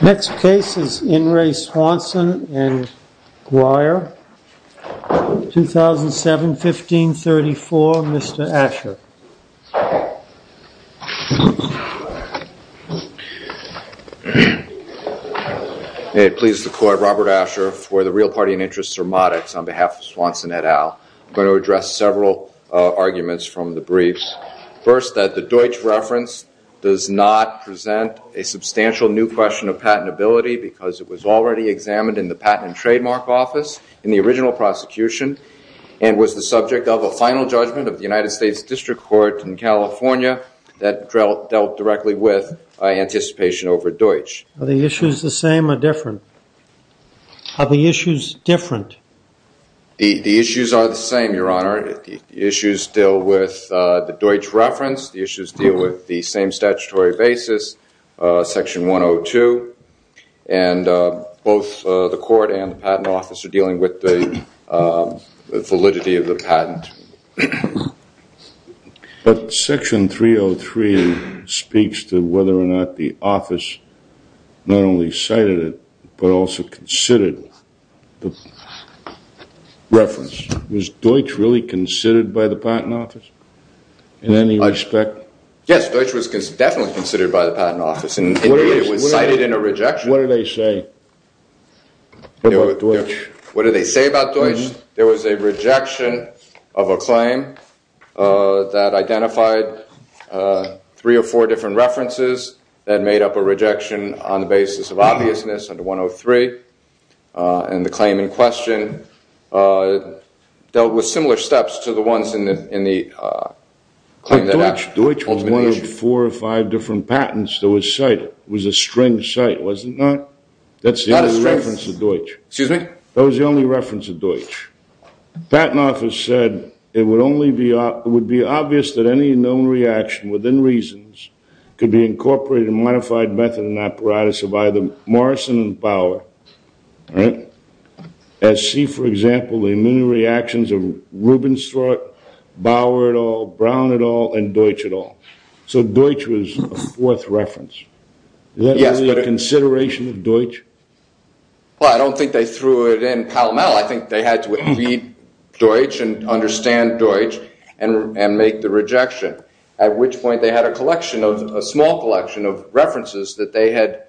Next case is In Re Swanson and Guyer, 2007, 1534. Mr. Asher May it please the court, Robert Asher for the Real Party and Interests Hermotics on behalf of Swanson et al. I'm going to address several arguments from the briefs. First that the Deutsch reference does not present a substantial new question of patentability because it was already examined in the Patent and Trademark Office in the original prosecution and was the subject of a final judgment of the United States District Court in California that dealt directly with anticipation over Deutsch. Are the issues the same or different? Are the issues different? The issues are the same, your honor. Issues deal with the Deutsch reference. The issues deal with the same statutory basis, section 102. And both the court and the Patent Office are dealing with the validity of the patent. But section 303 speaks to whether or not the office not only cited it but also considered the reference. Was Deutsch really considered by the Patent Office in any respect? Yes, Deutsch was definitely considered by the Patent Office. It was cited in a rejection. What did they say about Deutsch? What did they say about Deutsch? There was a rejection of a claim that identified three or four different references that made up a rejection on the basis of obviousness under 103. And the claim in question dealt with similar steps to the ones in the claim that actually one of four or five different patents that was cited was a string cite, wasn't it? That's the only reference of Deutsch. That was the only reference of Deutsch. The Patent Office said it would be obvious that any known reaction within reasons could be incorporated in a modified method and apparatus of either Morrison and Bauer. As see, for example, the immunity reactions of Rubenstraut, Bauer et al., Brown et al., and Deutsch et al. So Deutsch was a fourth reference. Was that really a consideration of Deutsch? Well, I don't think they threw it in palmetto. I think they had to read Deutsch and understand Deutsch and make the rejection, at which point they had a collection, a small collection of references that they had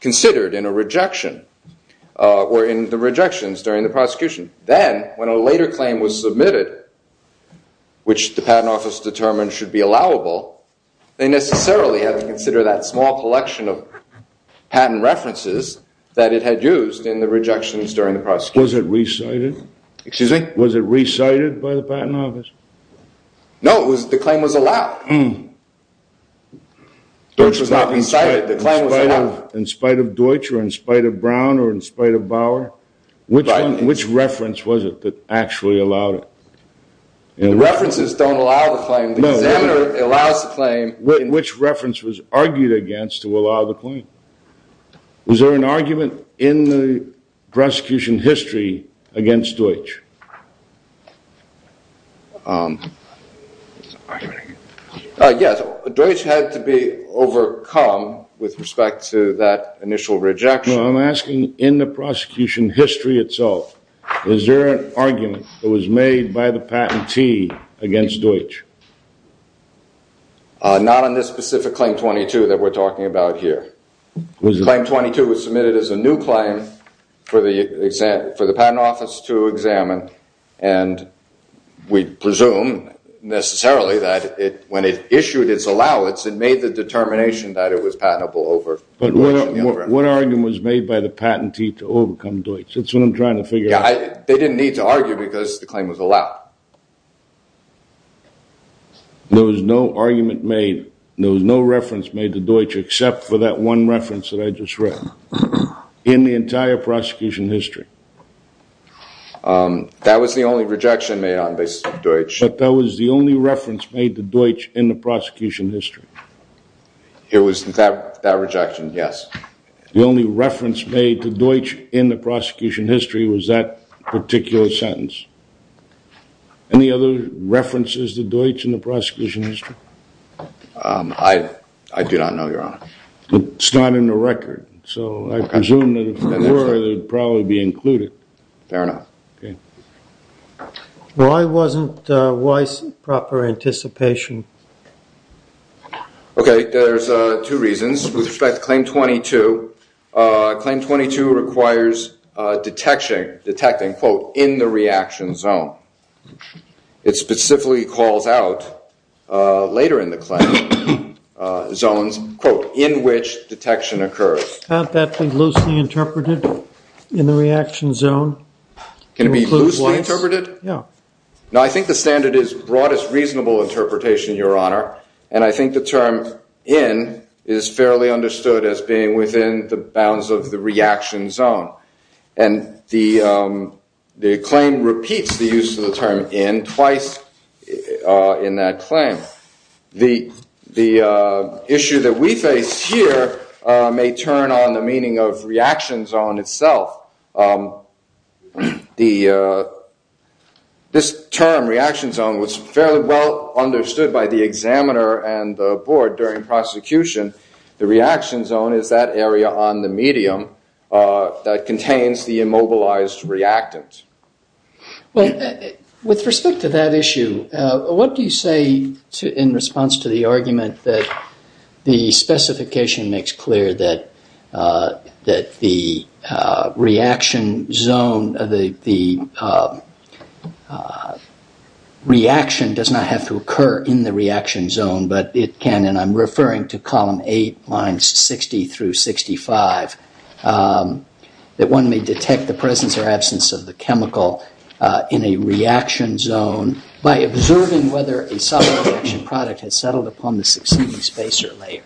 considered in a rejection or in the rejections during the prosecution. Then, when a later claim was submitted, which the Patent Office determined should be allowable, they necessarily had to consider that small collection of patent references that it had used in the rejections during the prosecution. Was it recited? Excuse me? Was it recited by the Patent Office? No, the claim was allowed. Deutsch was not recited, the claim was allowed. In spite of Deutsch or in spite of Brown or in spite of Bauer? Which reference was it that actually allowed it? References don't allow the claim. The examiner allows the claim. Which reference was argued against to allow the claim? Was there an argument in the prosecution history against Deutsch? Yes, Deutsch had to be overcome with respect to that initial rejection. No, I'm asking in the prosecution history itself. Is there an argument that was made by the patentee against Deutsch? Not on this specific Claim 22 that we're talking about here. Claim 22 was submitted as a new claim for the Patent Office to examine and we presume necessarily that when it issued its allowance, it made the determination that it was patentable over. But what argument was made by the patentee to overcome Deutsch? That's what I'm trying to figure out. They didn't need to argue because the claim was allowed. There was no argument made, there was no reference made to Deutsch except for that one reference that I just read in the entire prosecution history. That was the only rejection made on the basis of Deutsch. But that was the only reference made to Deutsch in the prosecution history. It was that rejection, yes. The only reference made to Deutsch in the prosecution history was that particular sentence. Any other references to Deutsch in the prosecution history? I do not know, Your Honor. It's not in the record, so I presume that if it were, it would probably be included. Fair enough. Why wasn't Weiss proper anticipation? Okay, there's two reasons. With respect to Claim 22, Claim 22 requires detecting, quote, in the reaction zone. It specifically calls out, later in the claim, zones, quote, in which detection occurs. Can't that be loosely interpreted, in the reaction zone? Can it be loosely interpreted? Yeah. No, I think the standard is broadest reasonable interpretation, Your Honor. And I think the term, in, is fairly understood as being within the bounds of the reaction zone. And the claim repeats the use of the term, in, twice in that claim. The issue that we face here may turn on the meaning of reaction zone itself. The, this term, reaction zone, was fairly well understood by the examiner and the board during prosecution. The reaction zone is that area on the medium that contains the immobilized reactant. Well, with respect to that issue, what do you say in response to the argument that the specification makes clear that the reaction zone, the reaction does not have to occur in the reaction zone, but it can, and I'm referring to column 8, lines 60 through 65, that one may detect the presence or absence of the chemical in a reaction zone by observing whether a solid reaction product has settled upon the succeeding spacer layer.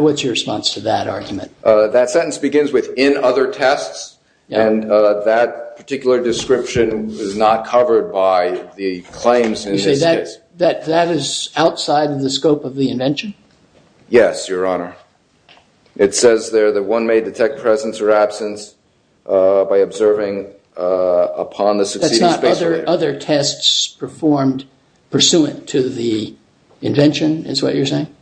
What's your response to that argument? That sentence begins with, in other tests. And that particular description is not covered by the claims in this case. You say that is outside of the scope of the invention? Yes, Your Honor. It says there that one may detect presence or absence by observing upon the succeeding spacer layer. There's not other tests performed pursuant to the invention, is what you're saying?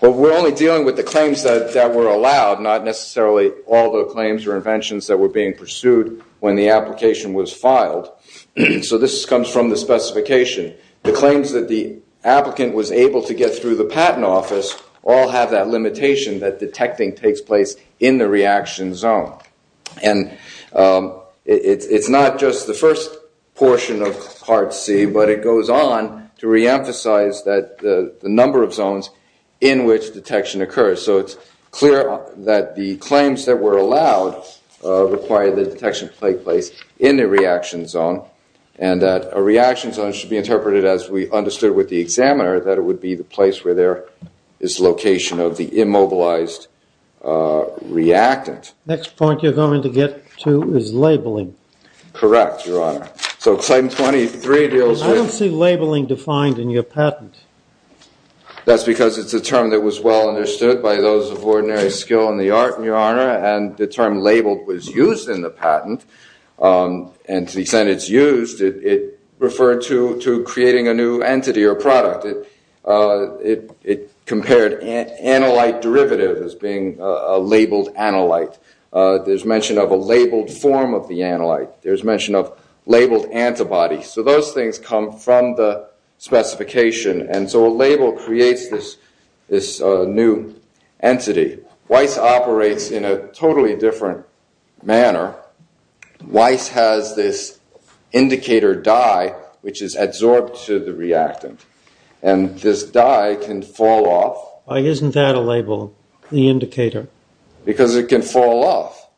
Well, we're only dealing with the claims that were allowed, not necessarily all the claims or inventions that were being pursued when the application was filed. So this comes from the specification. The claims that the applicant was able to get through the patent office all have that limitation that detecting takes place in the reaction zone. And it's not just the first portion of Part C, but it goes on to reemphasize that the number of zones in which detection occurs. So it's clear that the claims that were allowed require the detection to take place in the reaction zone, and that a reaction zone should be interpreted as we understood with the examiner that it would be the place where there is location of the immobilized reactant. Next point you're going to get to is labeling. Correct, Your Honor. So Claim 23 deals with... I don't see labeling defined in your patent. That's because it's a term that was well understood by those of ordinary skill in the art, Your Honor, and the term labeled was used in the patent. And to the extent it's used, it referred to creating a new entity or product. It compared an analyte derivative as being a labeled analyte. There's mention of a labeled form of the analyte. There's mention of labeled antibodies. So those things come from the specification, and so a label creates this new entity. Weiss operates in a totally different manner. Weiss has this indicator dye which is adsorbed to the reactant. And this dye can fall off. Why isn't that a label, the indicator? Because it can fall off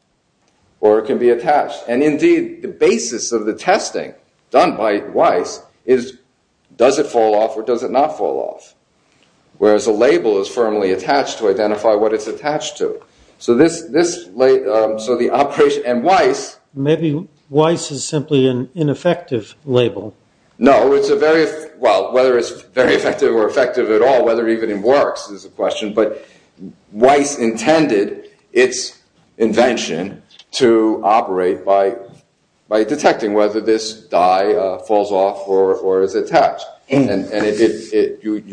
or it can be attached. And indeed, the basis of the testing done by Weiss is, does it fall off or does it not fall off? Whereas a label is firmly attached to identify what it's attached to. So the operation... and Weiss... Maybe Weiss is simply an ineffective label. No, it's a very... Well, whether it's very effective or effective at all, whether even it works is a question. But Weiss intended its invention to operate by detecting whether this dye falls off or is attached. And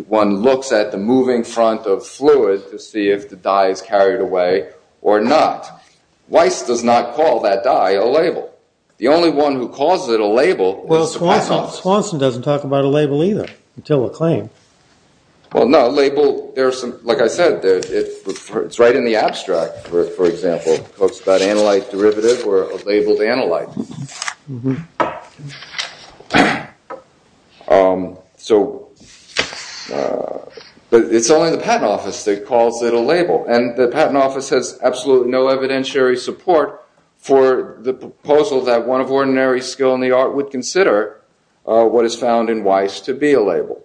one looks at the moving front of fluid to see if the dye is carried away or not. Weiss does not call that dye a label. The only one who calls it a label is the patent office. Well, Swanson doesn't talk about a label either until a claim. Well, no, a label... Like I said, it's right in the abstract. For example, books about analyte derivatives were labeled analyte. But it's only the patent office that calls it a label. And the patent office has absolutely no evidentiary support for the proposal that one of ordinary skill in the art would consider what is found in Weiss to be a label.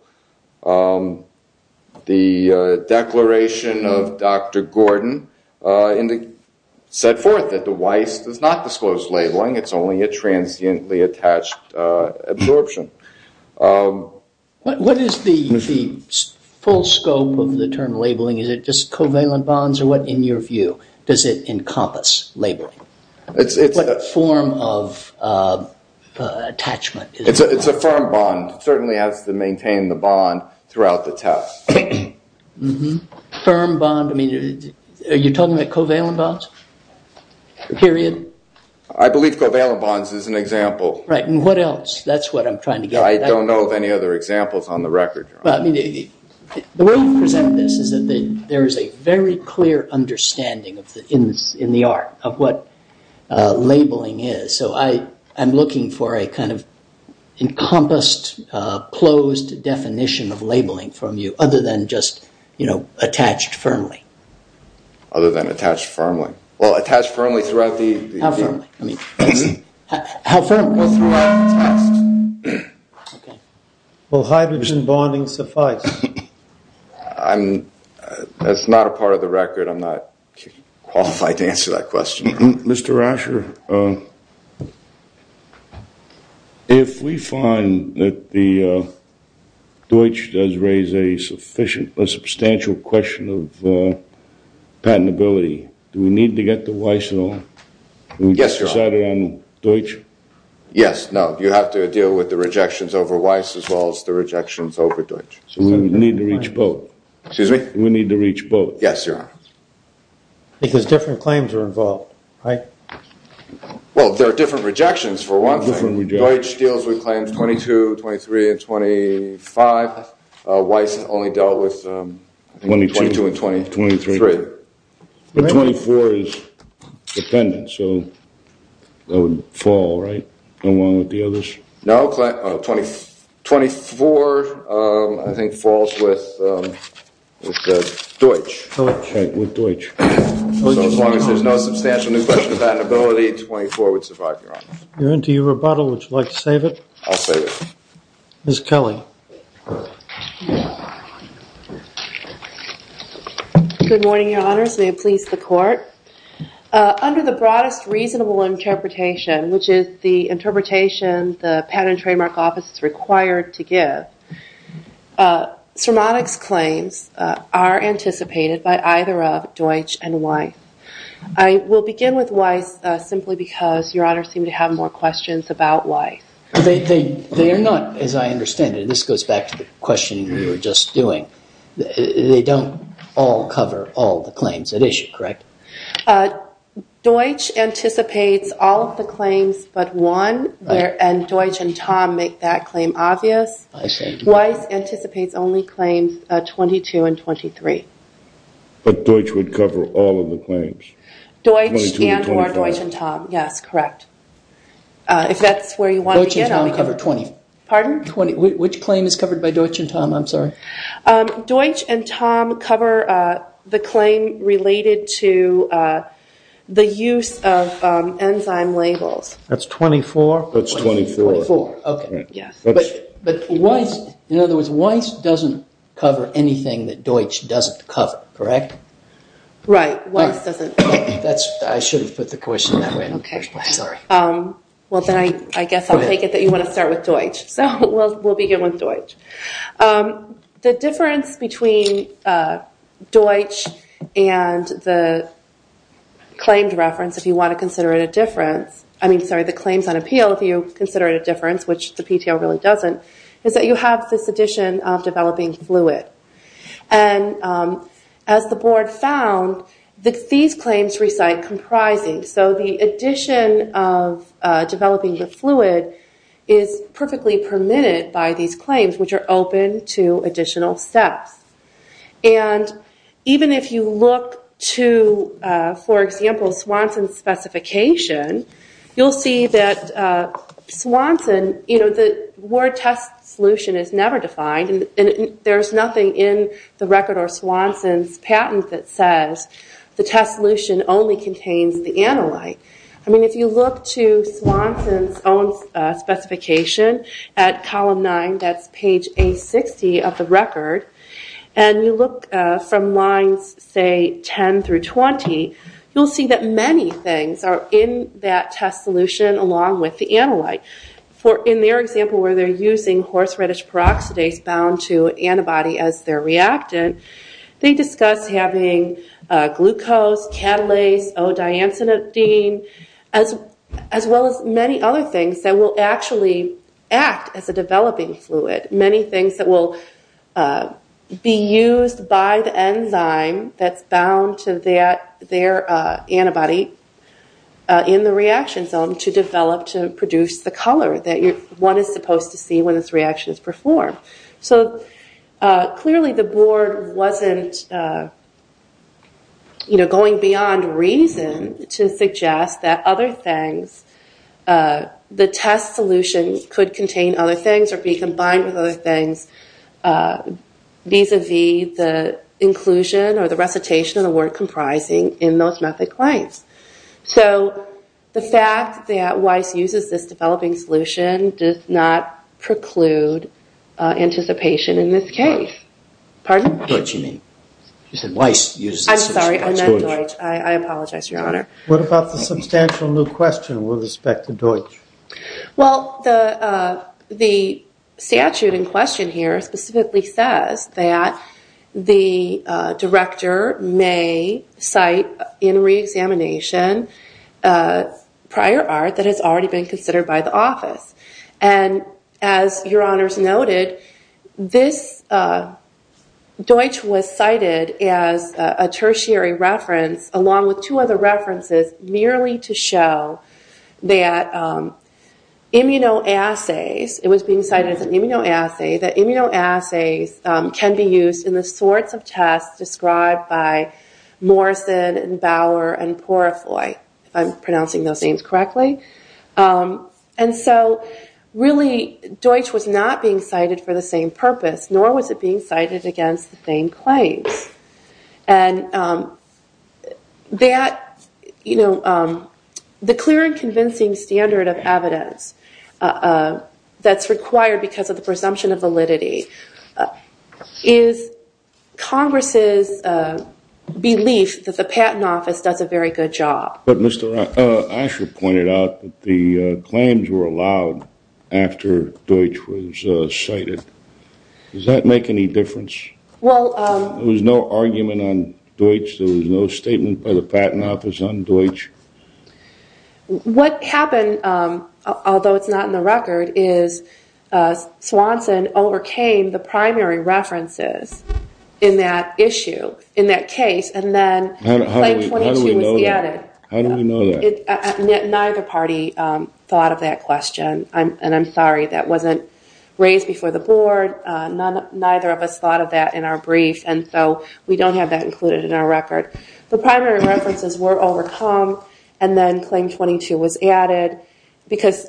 The declaration of Dr. Gordon set forth that the Weiss does not disclose labeling. It's only a transiently attached absorption. What is the full scope of the term labeling? Is it just covalent bonds? Or what, in your view, does it encompass labeling? What form of attachment is it? It's a firm bond. It certainly has to maintain the bond throughout the test. Are you talking about covalent bonds? I believe covalent bonds is an example. Right. And what else? That's what I'm trying to get at. I don't know of any other examples on the record. The way you present this is that there is a very clear understanding in the art of what labeling is. So I'm looking for a kind of encompassed, closed definition of labeling from you, other than just, you know, attached firmly. Other than attached firmly. Well, attached firmly throughout the... How firmly? How firmly? Will hydrogen bonding suffice? I'm... That's not a part of the record. I'm not qualified to answer that question. Mr. Rasher, if we find that the Deutsch does raise a substantial question of patentability, do we need to get to Weiss at all? Yes, Your Honor. Do you have to deal with the rejections over Weiss as well as the rejections over Deutsch? We need to reach both. Because different claims are involved, right? Well, there are different rejections, for one thing. Deutsch deals with claims 22, 23, and 25. Weiss only dealt with 22 and 23. 24 is dependent, so that would fall, right? Along with the others? No, 24 I think falls with Deutsch. So as long as there's no substantial new question of patentability, 24 would survive, Your Honor. I'll save it. Ms. Kelly. Good morning, Your Honors. May it please the Court. Under the broadest reasonable interpretation, which is the interpretation the Patent and Trademark Office is required to give, somatics claims are anticipated by either of Deutsch and Weiss. I will begin with Weiss simply because Your Honor seemed to have more questions about Weiss. They are not, as I understand it, and this goes back to the questioning you were just doing, they don't all cover all the claims at issue, correct? Deutsch anticipates all of the claims but one, and Deutsch and Tom make that claim obvious. Weiss anticipates only claims 22 and 23. But Deutsch would cover all of the claims? Deutsch and or Deutsch and Tom, yes, correct. If that's where you wanted to get on. Deutsch and Tom cover 20. Which claim is covered by Deutsch and Tom, I'm sorry? Deutsch and Tom cover the claim related to the use of enzyme labels. That's 24? That's 24. But Weiss doesn't cover anything that Deutsch doesn't cover, correct? I should have put the question that way. I guess I'll take it that you want to start with Deutsch. So we'll begin with Deutsch. The difference between Deutsch and the claims on appeal if you consider it a difference, which the PTO really doesn't, is that you have this addition of developing fluid. And as the board found, these claims reside comprising. So the addition of developing the fluid is perfectly permitted by these claims which are open to additional steps. And even if you look to for example, Swanson's specification you'll see that Swanson the word test solution is never defined and there's nothing in the record or Swanson's patent that says the test solution only contains the analyte. If you look to Swanson's own specification at column 9, that's page A60 of the record, and you look from lines say 10 through 20 you'll see that many things are in that test solution along with the analyte. In their example where they're using horseradish peroxidase bound to antibody as their reactant they discuss having glucose, catalase, odiancinidine as well as many other things that will actually act as a developing fluid. Many things that will be used by the enzyme that's bound to their antibody in the reaction zone to develop to produce the color that one is supposed to see when this reaction is performed. So clearly the board wasn't going beyond reason to suggest that other things, the test solution could contain other things or be combined with other things vis-a-vis the inclusion or the recitation of the word comprising in those method clients. So the fact that Weiss uses this developing solution does not preclude anticipation in this case. Pardon? I'm sorry, I meant Deutsch. I apologize, your honor. What about the substantial new question with respect to Deutsch? Well, the statute in question here specifically says that the director may cite in re-examination prior art that has already been considered by the office. And as your honors noted this Deutsch was cited as a tertiary reference along with two other references merely to show that immunoassays that immunoassays can be used in the sorts of tests described by Morrison and Bauer and Porafoy if I'm pronouncing those names correctly. And so really Deutsch was not being cited for the same purpose nor was it being cited against the same claims. And that the clear and convincing standard of evidence that's required because of the presumption of validity is Congress' belief that the Patent Office does a very good job. But Mr. Asher pointed out that the claims were allowed after Deutsch was cited. Does that make any difference? There was no argument on Deutsch? There was no statement by the Patent Office on Deutsch? What happened although it's not in the record is Swanson overcame the primary references in that issue in that case and then Claim 22 was added. How do we know that? Neither party thought of that question and I'm sorry that wasn't raised before the board. Neither of us thought of that in our brief and so we don't have that included in our record. The primary references were overcome and then Claim 22 was added because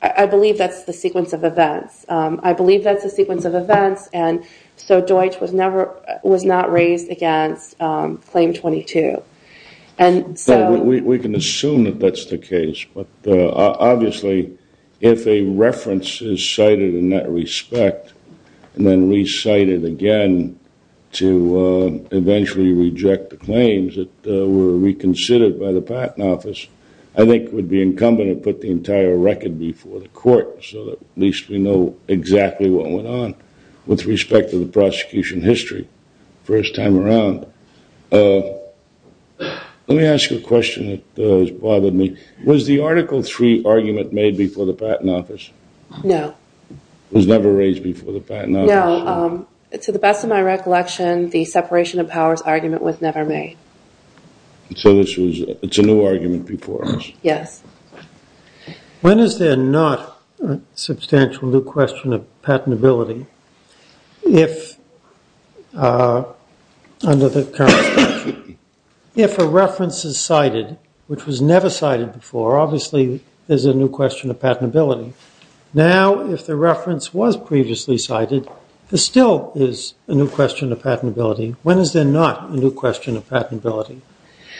I believe that's the sequence of events. I believe that's the sequence of events and so Deutsch was not raised against Claim 22. obviously if a reference is cited in that respect and then recited again to eventually reject the claims that were reconsidered by the Patent Office I think it would be incumbent to put the entire record before the court so that at least we know exactly what went on with respect to the prosecution history first time around. Let me ask you a question that has bothered me. Was the Article 3 argument made before the Patent Office? No. It was never raised before the Patent Office? No. To the best of my recollection the separation of powers argument was never made. So it's a new argument before us? Yes. When is there not a substantial new question of patentability if under the current if a reference is cited which was never cited before obviously there's a new question of patentability. Now if the reference was previously cited there still is a new question of patentability. When is there not a new question of patentability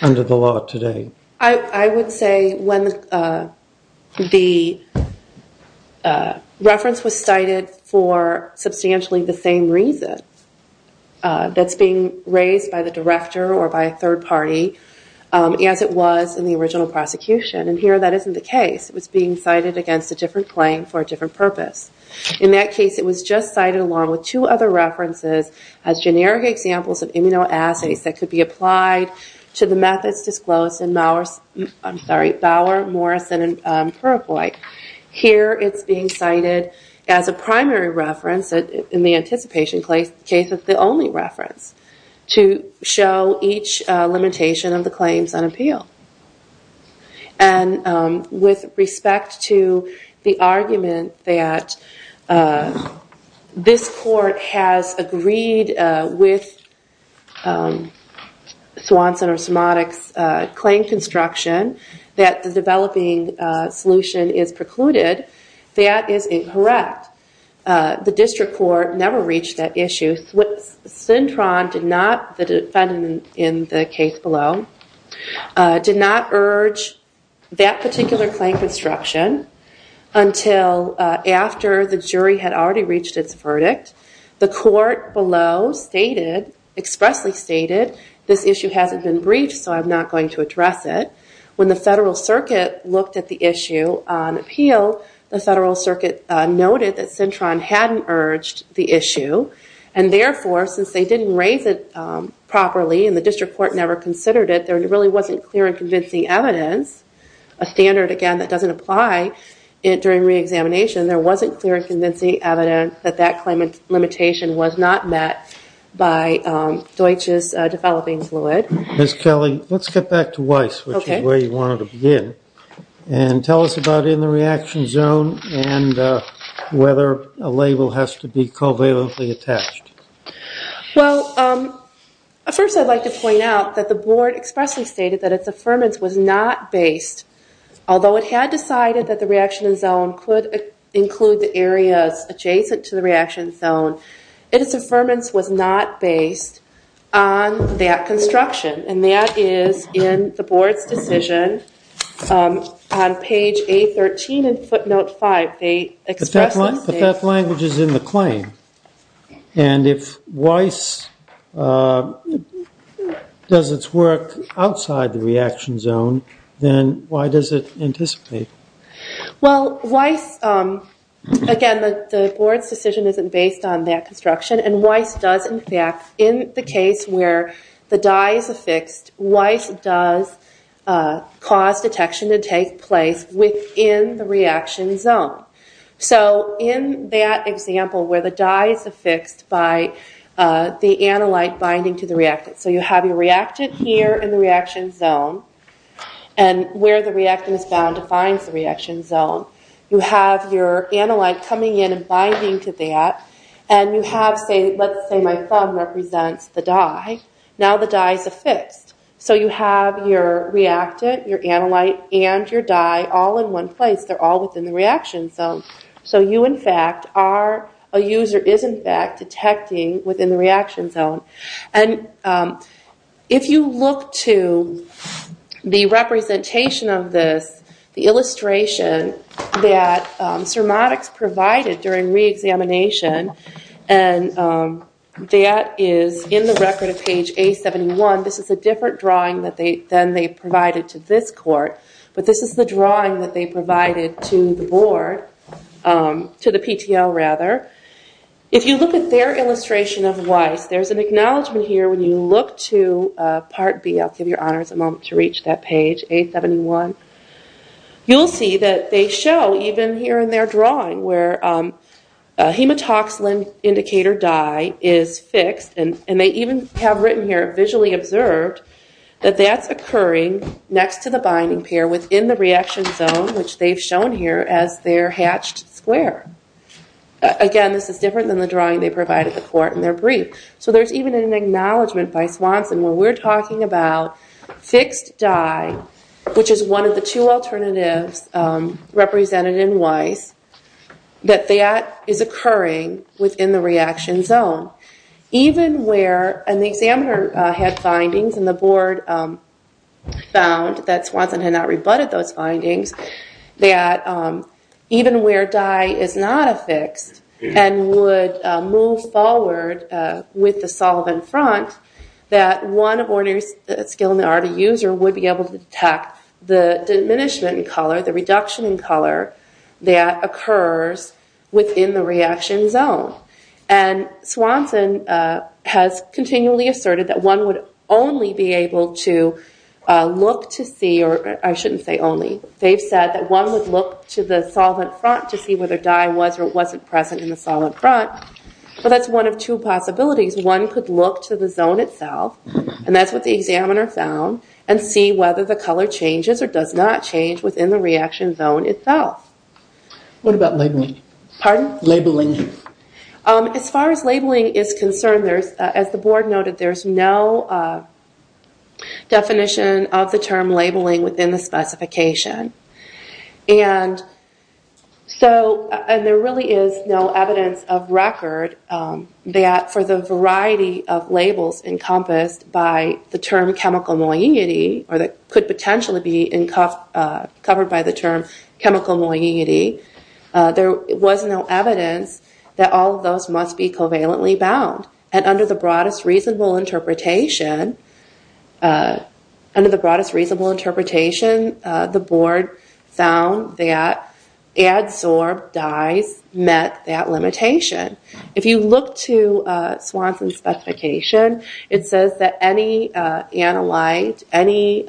under the law today? I would say when the reference was cited for substantially the same reason that's being raised by the director or by a third party as it was in the original prosecution and here that isn't the case. It was being cited against a different claim for a different purpose. In that case it was just cited along with two other references as generic examples of immunoassays that could be applied to the methods disclosed in Bauer, Morrison and Here it's being cited as a primary reference in the anticipation case it's the only reference to show each limitation of the claims on appeal and with respect to the argument that this court has agreed with Swanson or Somatic's claim construction that the developing solution is precluded that is incorrect. The district court never reached that issue Sintron did not in the case below did not urge that particular claim construction until after the jury had already reached its verdict. The court below stated, expressly stated this issue hasn't been briefed so I'm not going to address it when the federal circuit looked at the issue on appeal, the federal circuit noted that Sintron hadn't urged the issue and therefore since they didn't raise it properly and the district court never considered it, there really wasn't clear and convincing evidence, a standard again that doesn't apply during re-examination, there wasn't clear and convincing evidence that that claimant's limitation was not met by Deutsch's developing fluid. Ms. Kelly, let's get back to Weiss which is where you wanted to begin and tell us about in the reaction zone and whether a label has to be covalently attached Well, first I'd like to point out that the board expressly stated that its affirmance was not based, although it had decided that the reaction zone could include the areas adjacent to the reaction zone its affirmance was not based on that construction and that is in the board's decision on page A13 in footnote 5 But that language is in the claim and if Weiss does its work outside the reaction zone then why does it anticipate Well, Weiss again, the board's decision isn't based on that construction and Weiss does in fact in the case where the dye is affixed Weiss does cause detection to take place within the reaction zone So in that example where the dye is affixed by the analyte binding to the reactant so you have your reactant here in the reaction zone and where the reactant is bound defines the reaction zone you have your analyte coming in and binding to that and you have, let's say my thumb represents the dye, now the dye is affixed so you have your reactant, your analyte and your dye all in one place, they're all within the reaction zone, so you in fact are a user is in fact detecting within the reaction zone and if you look to the representation of this, the illustration that Cermatics provided during re-examination and that is in the record of page A71 this is a different drawing than they provided to this court but this is the drawing that they provided to the board, to the PTL rather if you look at their illustration of Weiss there's an acknowledgement here when you look to Part B, I'll give your honors a moment to reach that page A71, you'll see that they show even here in their drawing where hematoxin indicator dye is fixed and they even have written here visually observed that that's occurring next to the binding pair within the reaction zone which they've shown here as their hatched square again this is different than the drawing they provided to the court in their brief, so there's even an acknowledgement by Swanson when we're talking about fixed dye which is one of the two alternatives represented in Weiss, that that is occurring within the reaction zone even where, and the examiner had findings and the board found that Swanson had not rebutted those findings that even where dye is not fixed and would move forward with the solvent front that one ordinary skill in the art of use would be able to detect the diminishment in color, the reduction in color that occurs within the reaction zone and Swanson has continually asserted that one would only be able to look to see, or I shouldn't say only, they've said that one would only be able to look to the solvent front to see whether dye was or wasn't present in the solvent front but that's one of two possibilities, one could look to the zone itself and that's what the examiner found and see whether the color changes or does not change within the reaction zone itself. What about labeling? As far as labeling is concerned, as the board noted there's no definition of the term labeling within the specification and so there really is no evidence of record that for the variety of labels encompassed by the term chemical malignity or that could potentially be covered by the term chemical malignity there was no evidence that all of those must be covalently bound and under the broadest reasonable interpretation under the broadest reasonable interpretation the board found that adsorbed dyes met that limitation. If you look to Swanson's specification it says that any analyte any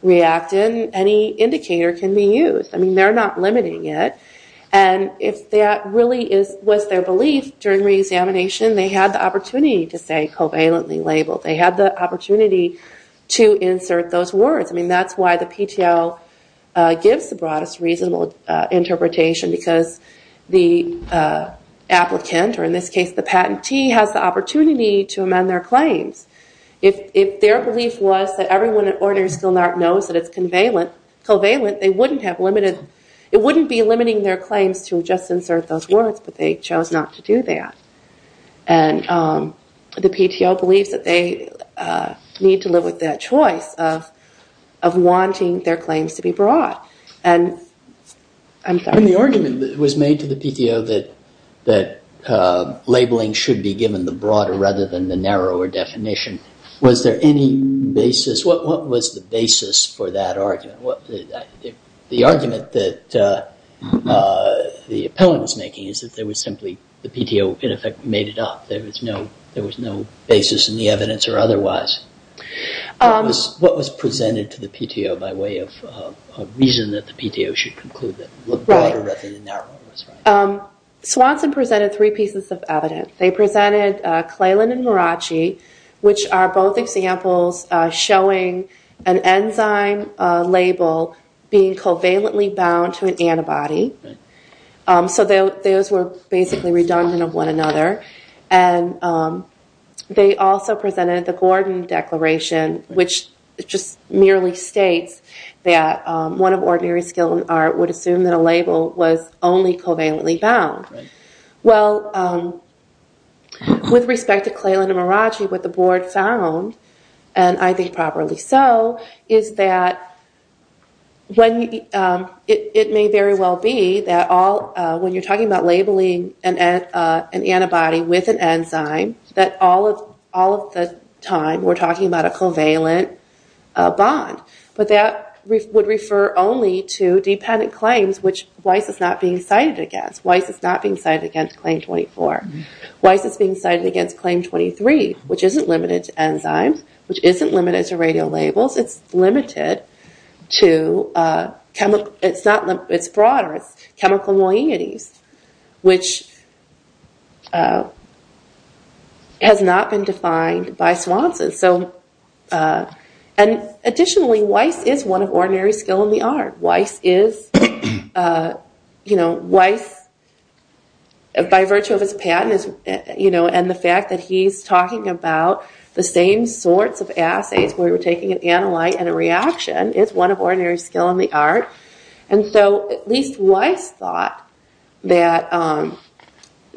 reactant, any indicator can be used, I mean they're not limiting it and if that really was their belief during re-examination they had the opportunity to say covalently labeled, they had the opportunity to insert those words, I mean that's why the PTO gives the broadest reasonable interpretation because the applicant or in this case the patentee has the opportunity to amend their claims. If their belief was that everyone at Ordinary Skill NARC knows that it's covalent, they wouldn't have limited it wouldn't be limiting their claims to just insert those words but they chose not to do that and the PTO believes that they need to live with that choice of wanting their claims to be broad and the argument that was made to the PTO that labeling should be given the broader rather than the narrower definition was there any basis, what was the basis for that argument? The argument that the appellant was making is that there was simply, the PTO in effect made it up there was no basis in the evidence or otherwise what was presented to the PTO by way of a reason that the PTO should conclude that the broader rather than the narrower was right? Swanson presented three pieces of evidence they presented Clalin and Mirachi which are both examples showing an enzyme label being covalently bound to an antibody. So those were basically redundant of one another and they also presented the Gordon declaration which just merely states that one of Ordinary Skill NARC would assume that a label was only covalently bound Well, with respect to Clalin and Mirachi, what the board found and I think properly so, is that it may very well be that when you're talking about labeling an antibody with an enzyme that all of the time we're talking about a covalent bond but that would refer only to dependent claims which WISE is not being cited against WISE is not being cited against Claim 24 WISE is being cited against Claim 23 which isn't limited to enzymes, which isn't limited to radio labels it's limited to it's broader, it's chemical novenities which has not been defined by Swanson so, and additionally WISE is one of Ordinary Skill NARC WISE by virtue of its patent and the fact that he's talking about the same sorts of assays where we're taking an analyte and a reaction is one of Ordinary Skill NARC and so at least WISE thought that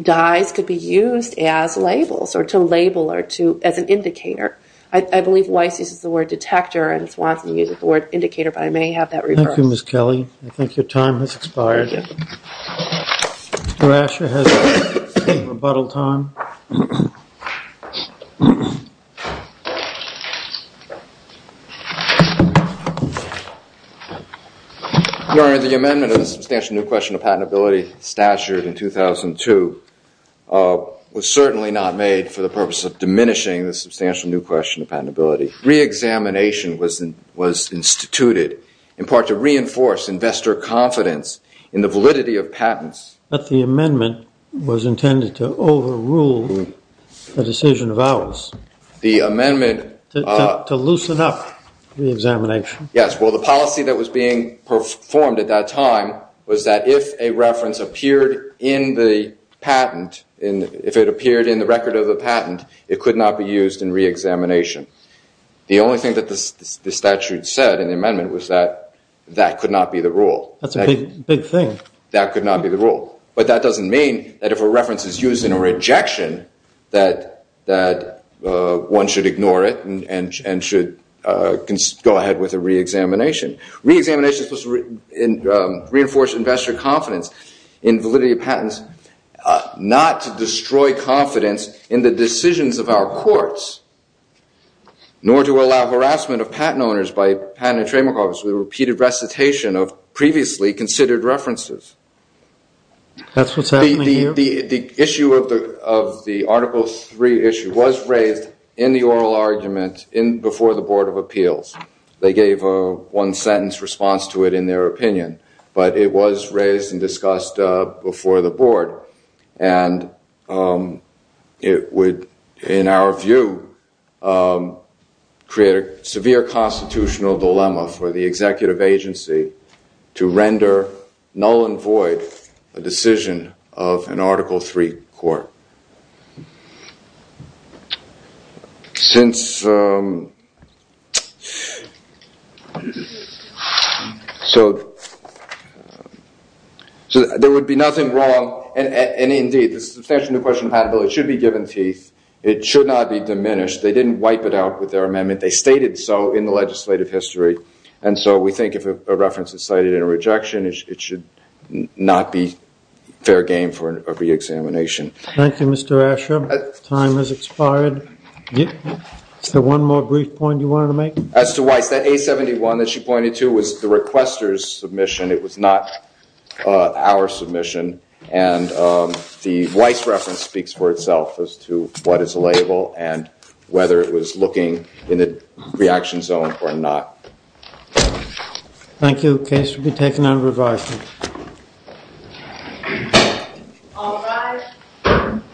dyes could be used as labels, or to label as an indicator I believe WISE uses the word detector and Swanson uses the word indicator Thank you Ms. Kelly I think your time has expired Dr. Asher has his rebuttal time Your Honor, the amendment of the Substantial New Question of Patentability statured in 2002 was certainly not made for the purpose of diminishing the Substantial New Question of Patentability Re-examination was instituted in part to reinforce investor confidence in the validity of patents But the amendment was intended to overrule the decision of ours to loosen up re-examination Yes, well the policy that was being performed at that time was that if a reference appeared in the patent if it appeared in the record of the patent it could not be used in re-examination The only thing that the statute said in the amendment was that that could not be the rule But that doesn't mean that if a reference is used in a rejection that one should ignore it and should go ahead with a re-examination Re-examination is supposed to reinforce investor confidence in the validity of patents not to destroy confidence in the decisions of our courts nor to allow harassment of patent owners by a patent and trademark officer with a repeated recitation of previously considered references That's what's happening here? The issue of the Article 3 issue was raised in the oral argument before the Board of Appeals They gave one sentence response to it in their opinion but it was raised and discussed before the Board and it would, in our view create a severe constitutional dilemma for the executive agency to render null and void a decision of an Article 3 court Since So There would be nothing wrong and indeed it should be given teeth It should not be diminished They didn't wipe it out with their amendment They stated so in the legislative history and so we think if a reference is cited in a rejection it should not be fair game for a re-examination Thank you, Mr. Asher Is there one more brief point you wanted to make? As to Weiss, that A71 that she pointed to was the requester's submission It was not our submission and the Weiss reference speaks for itself as to what is liable and whether it was looking in the reaction zone or not Thank you The case will be taken on revising All rise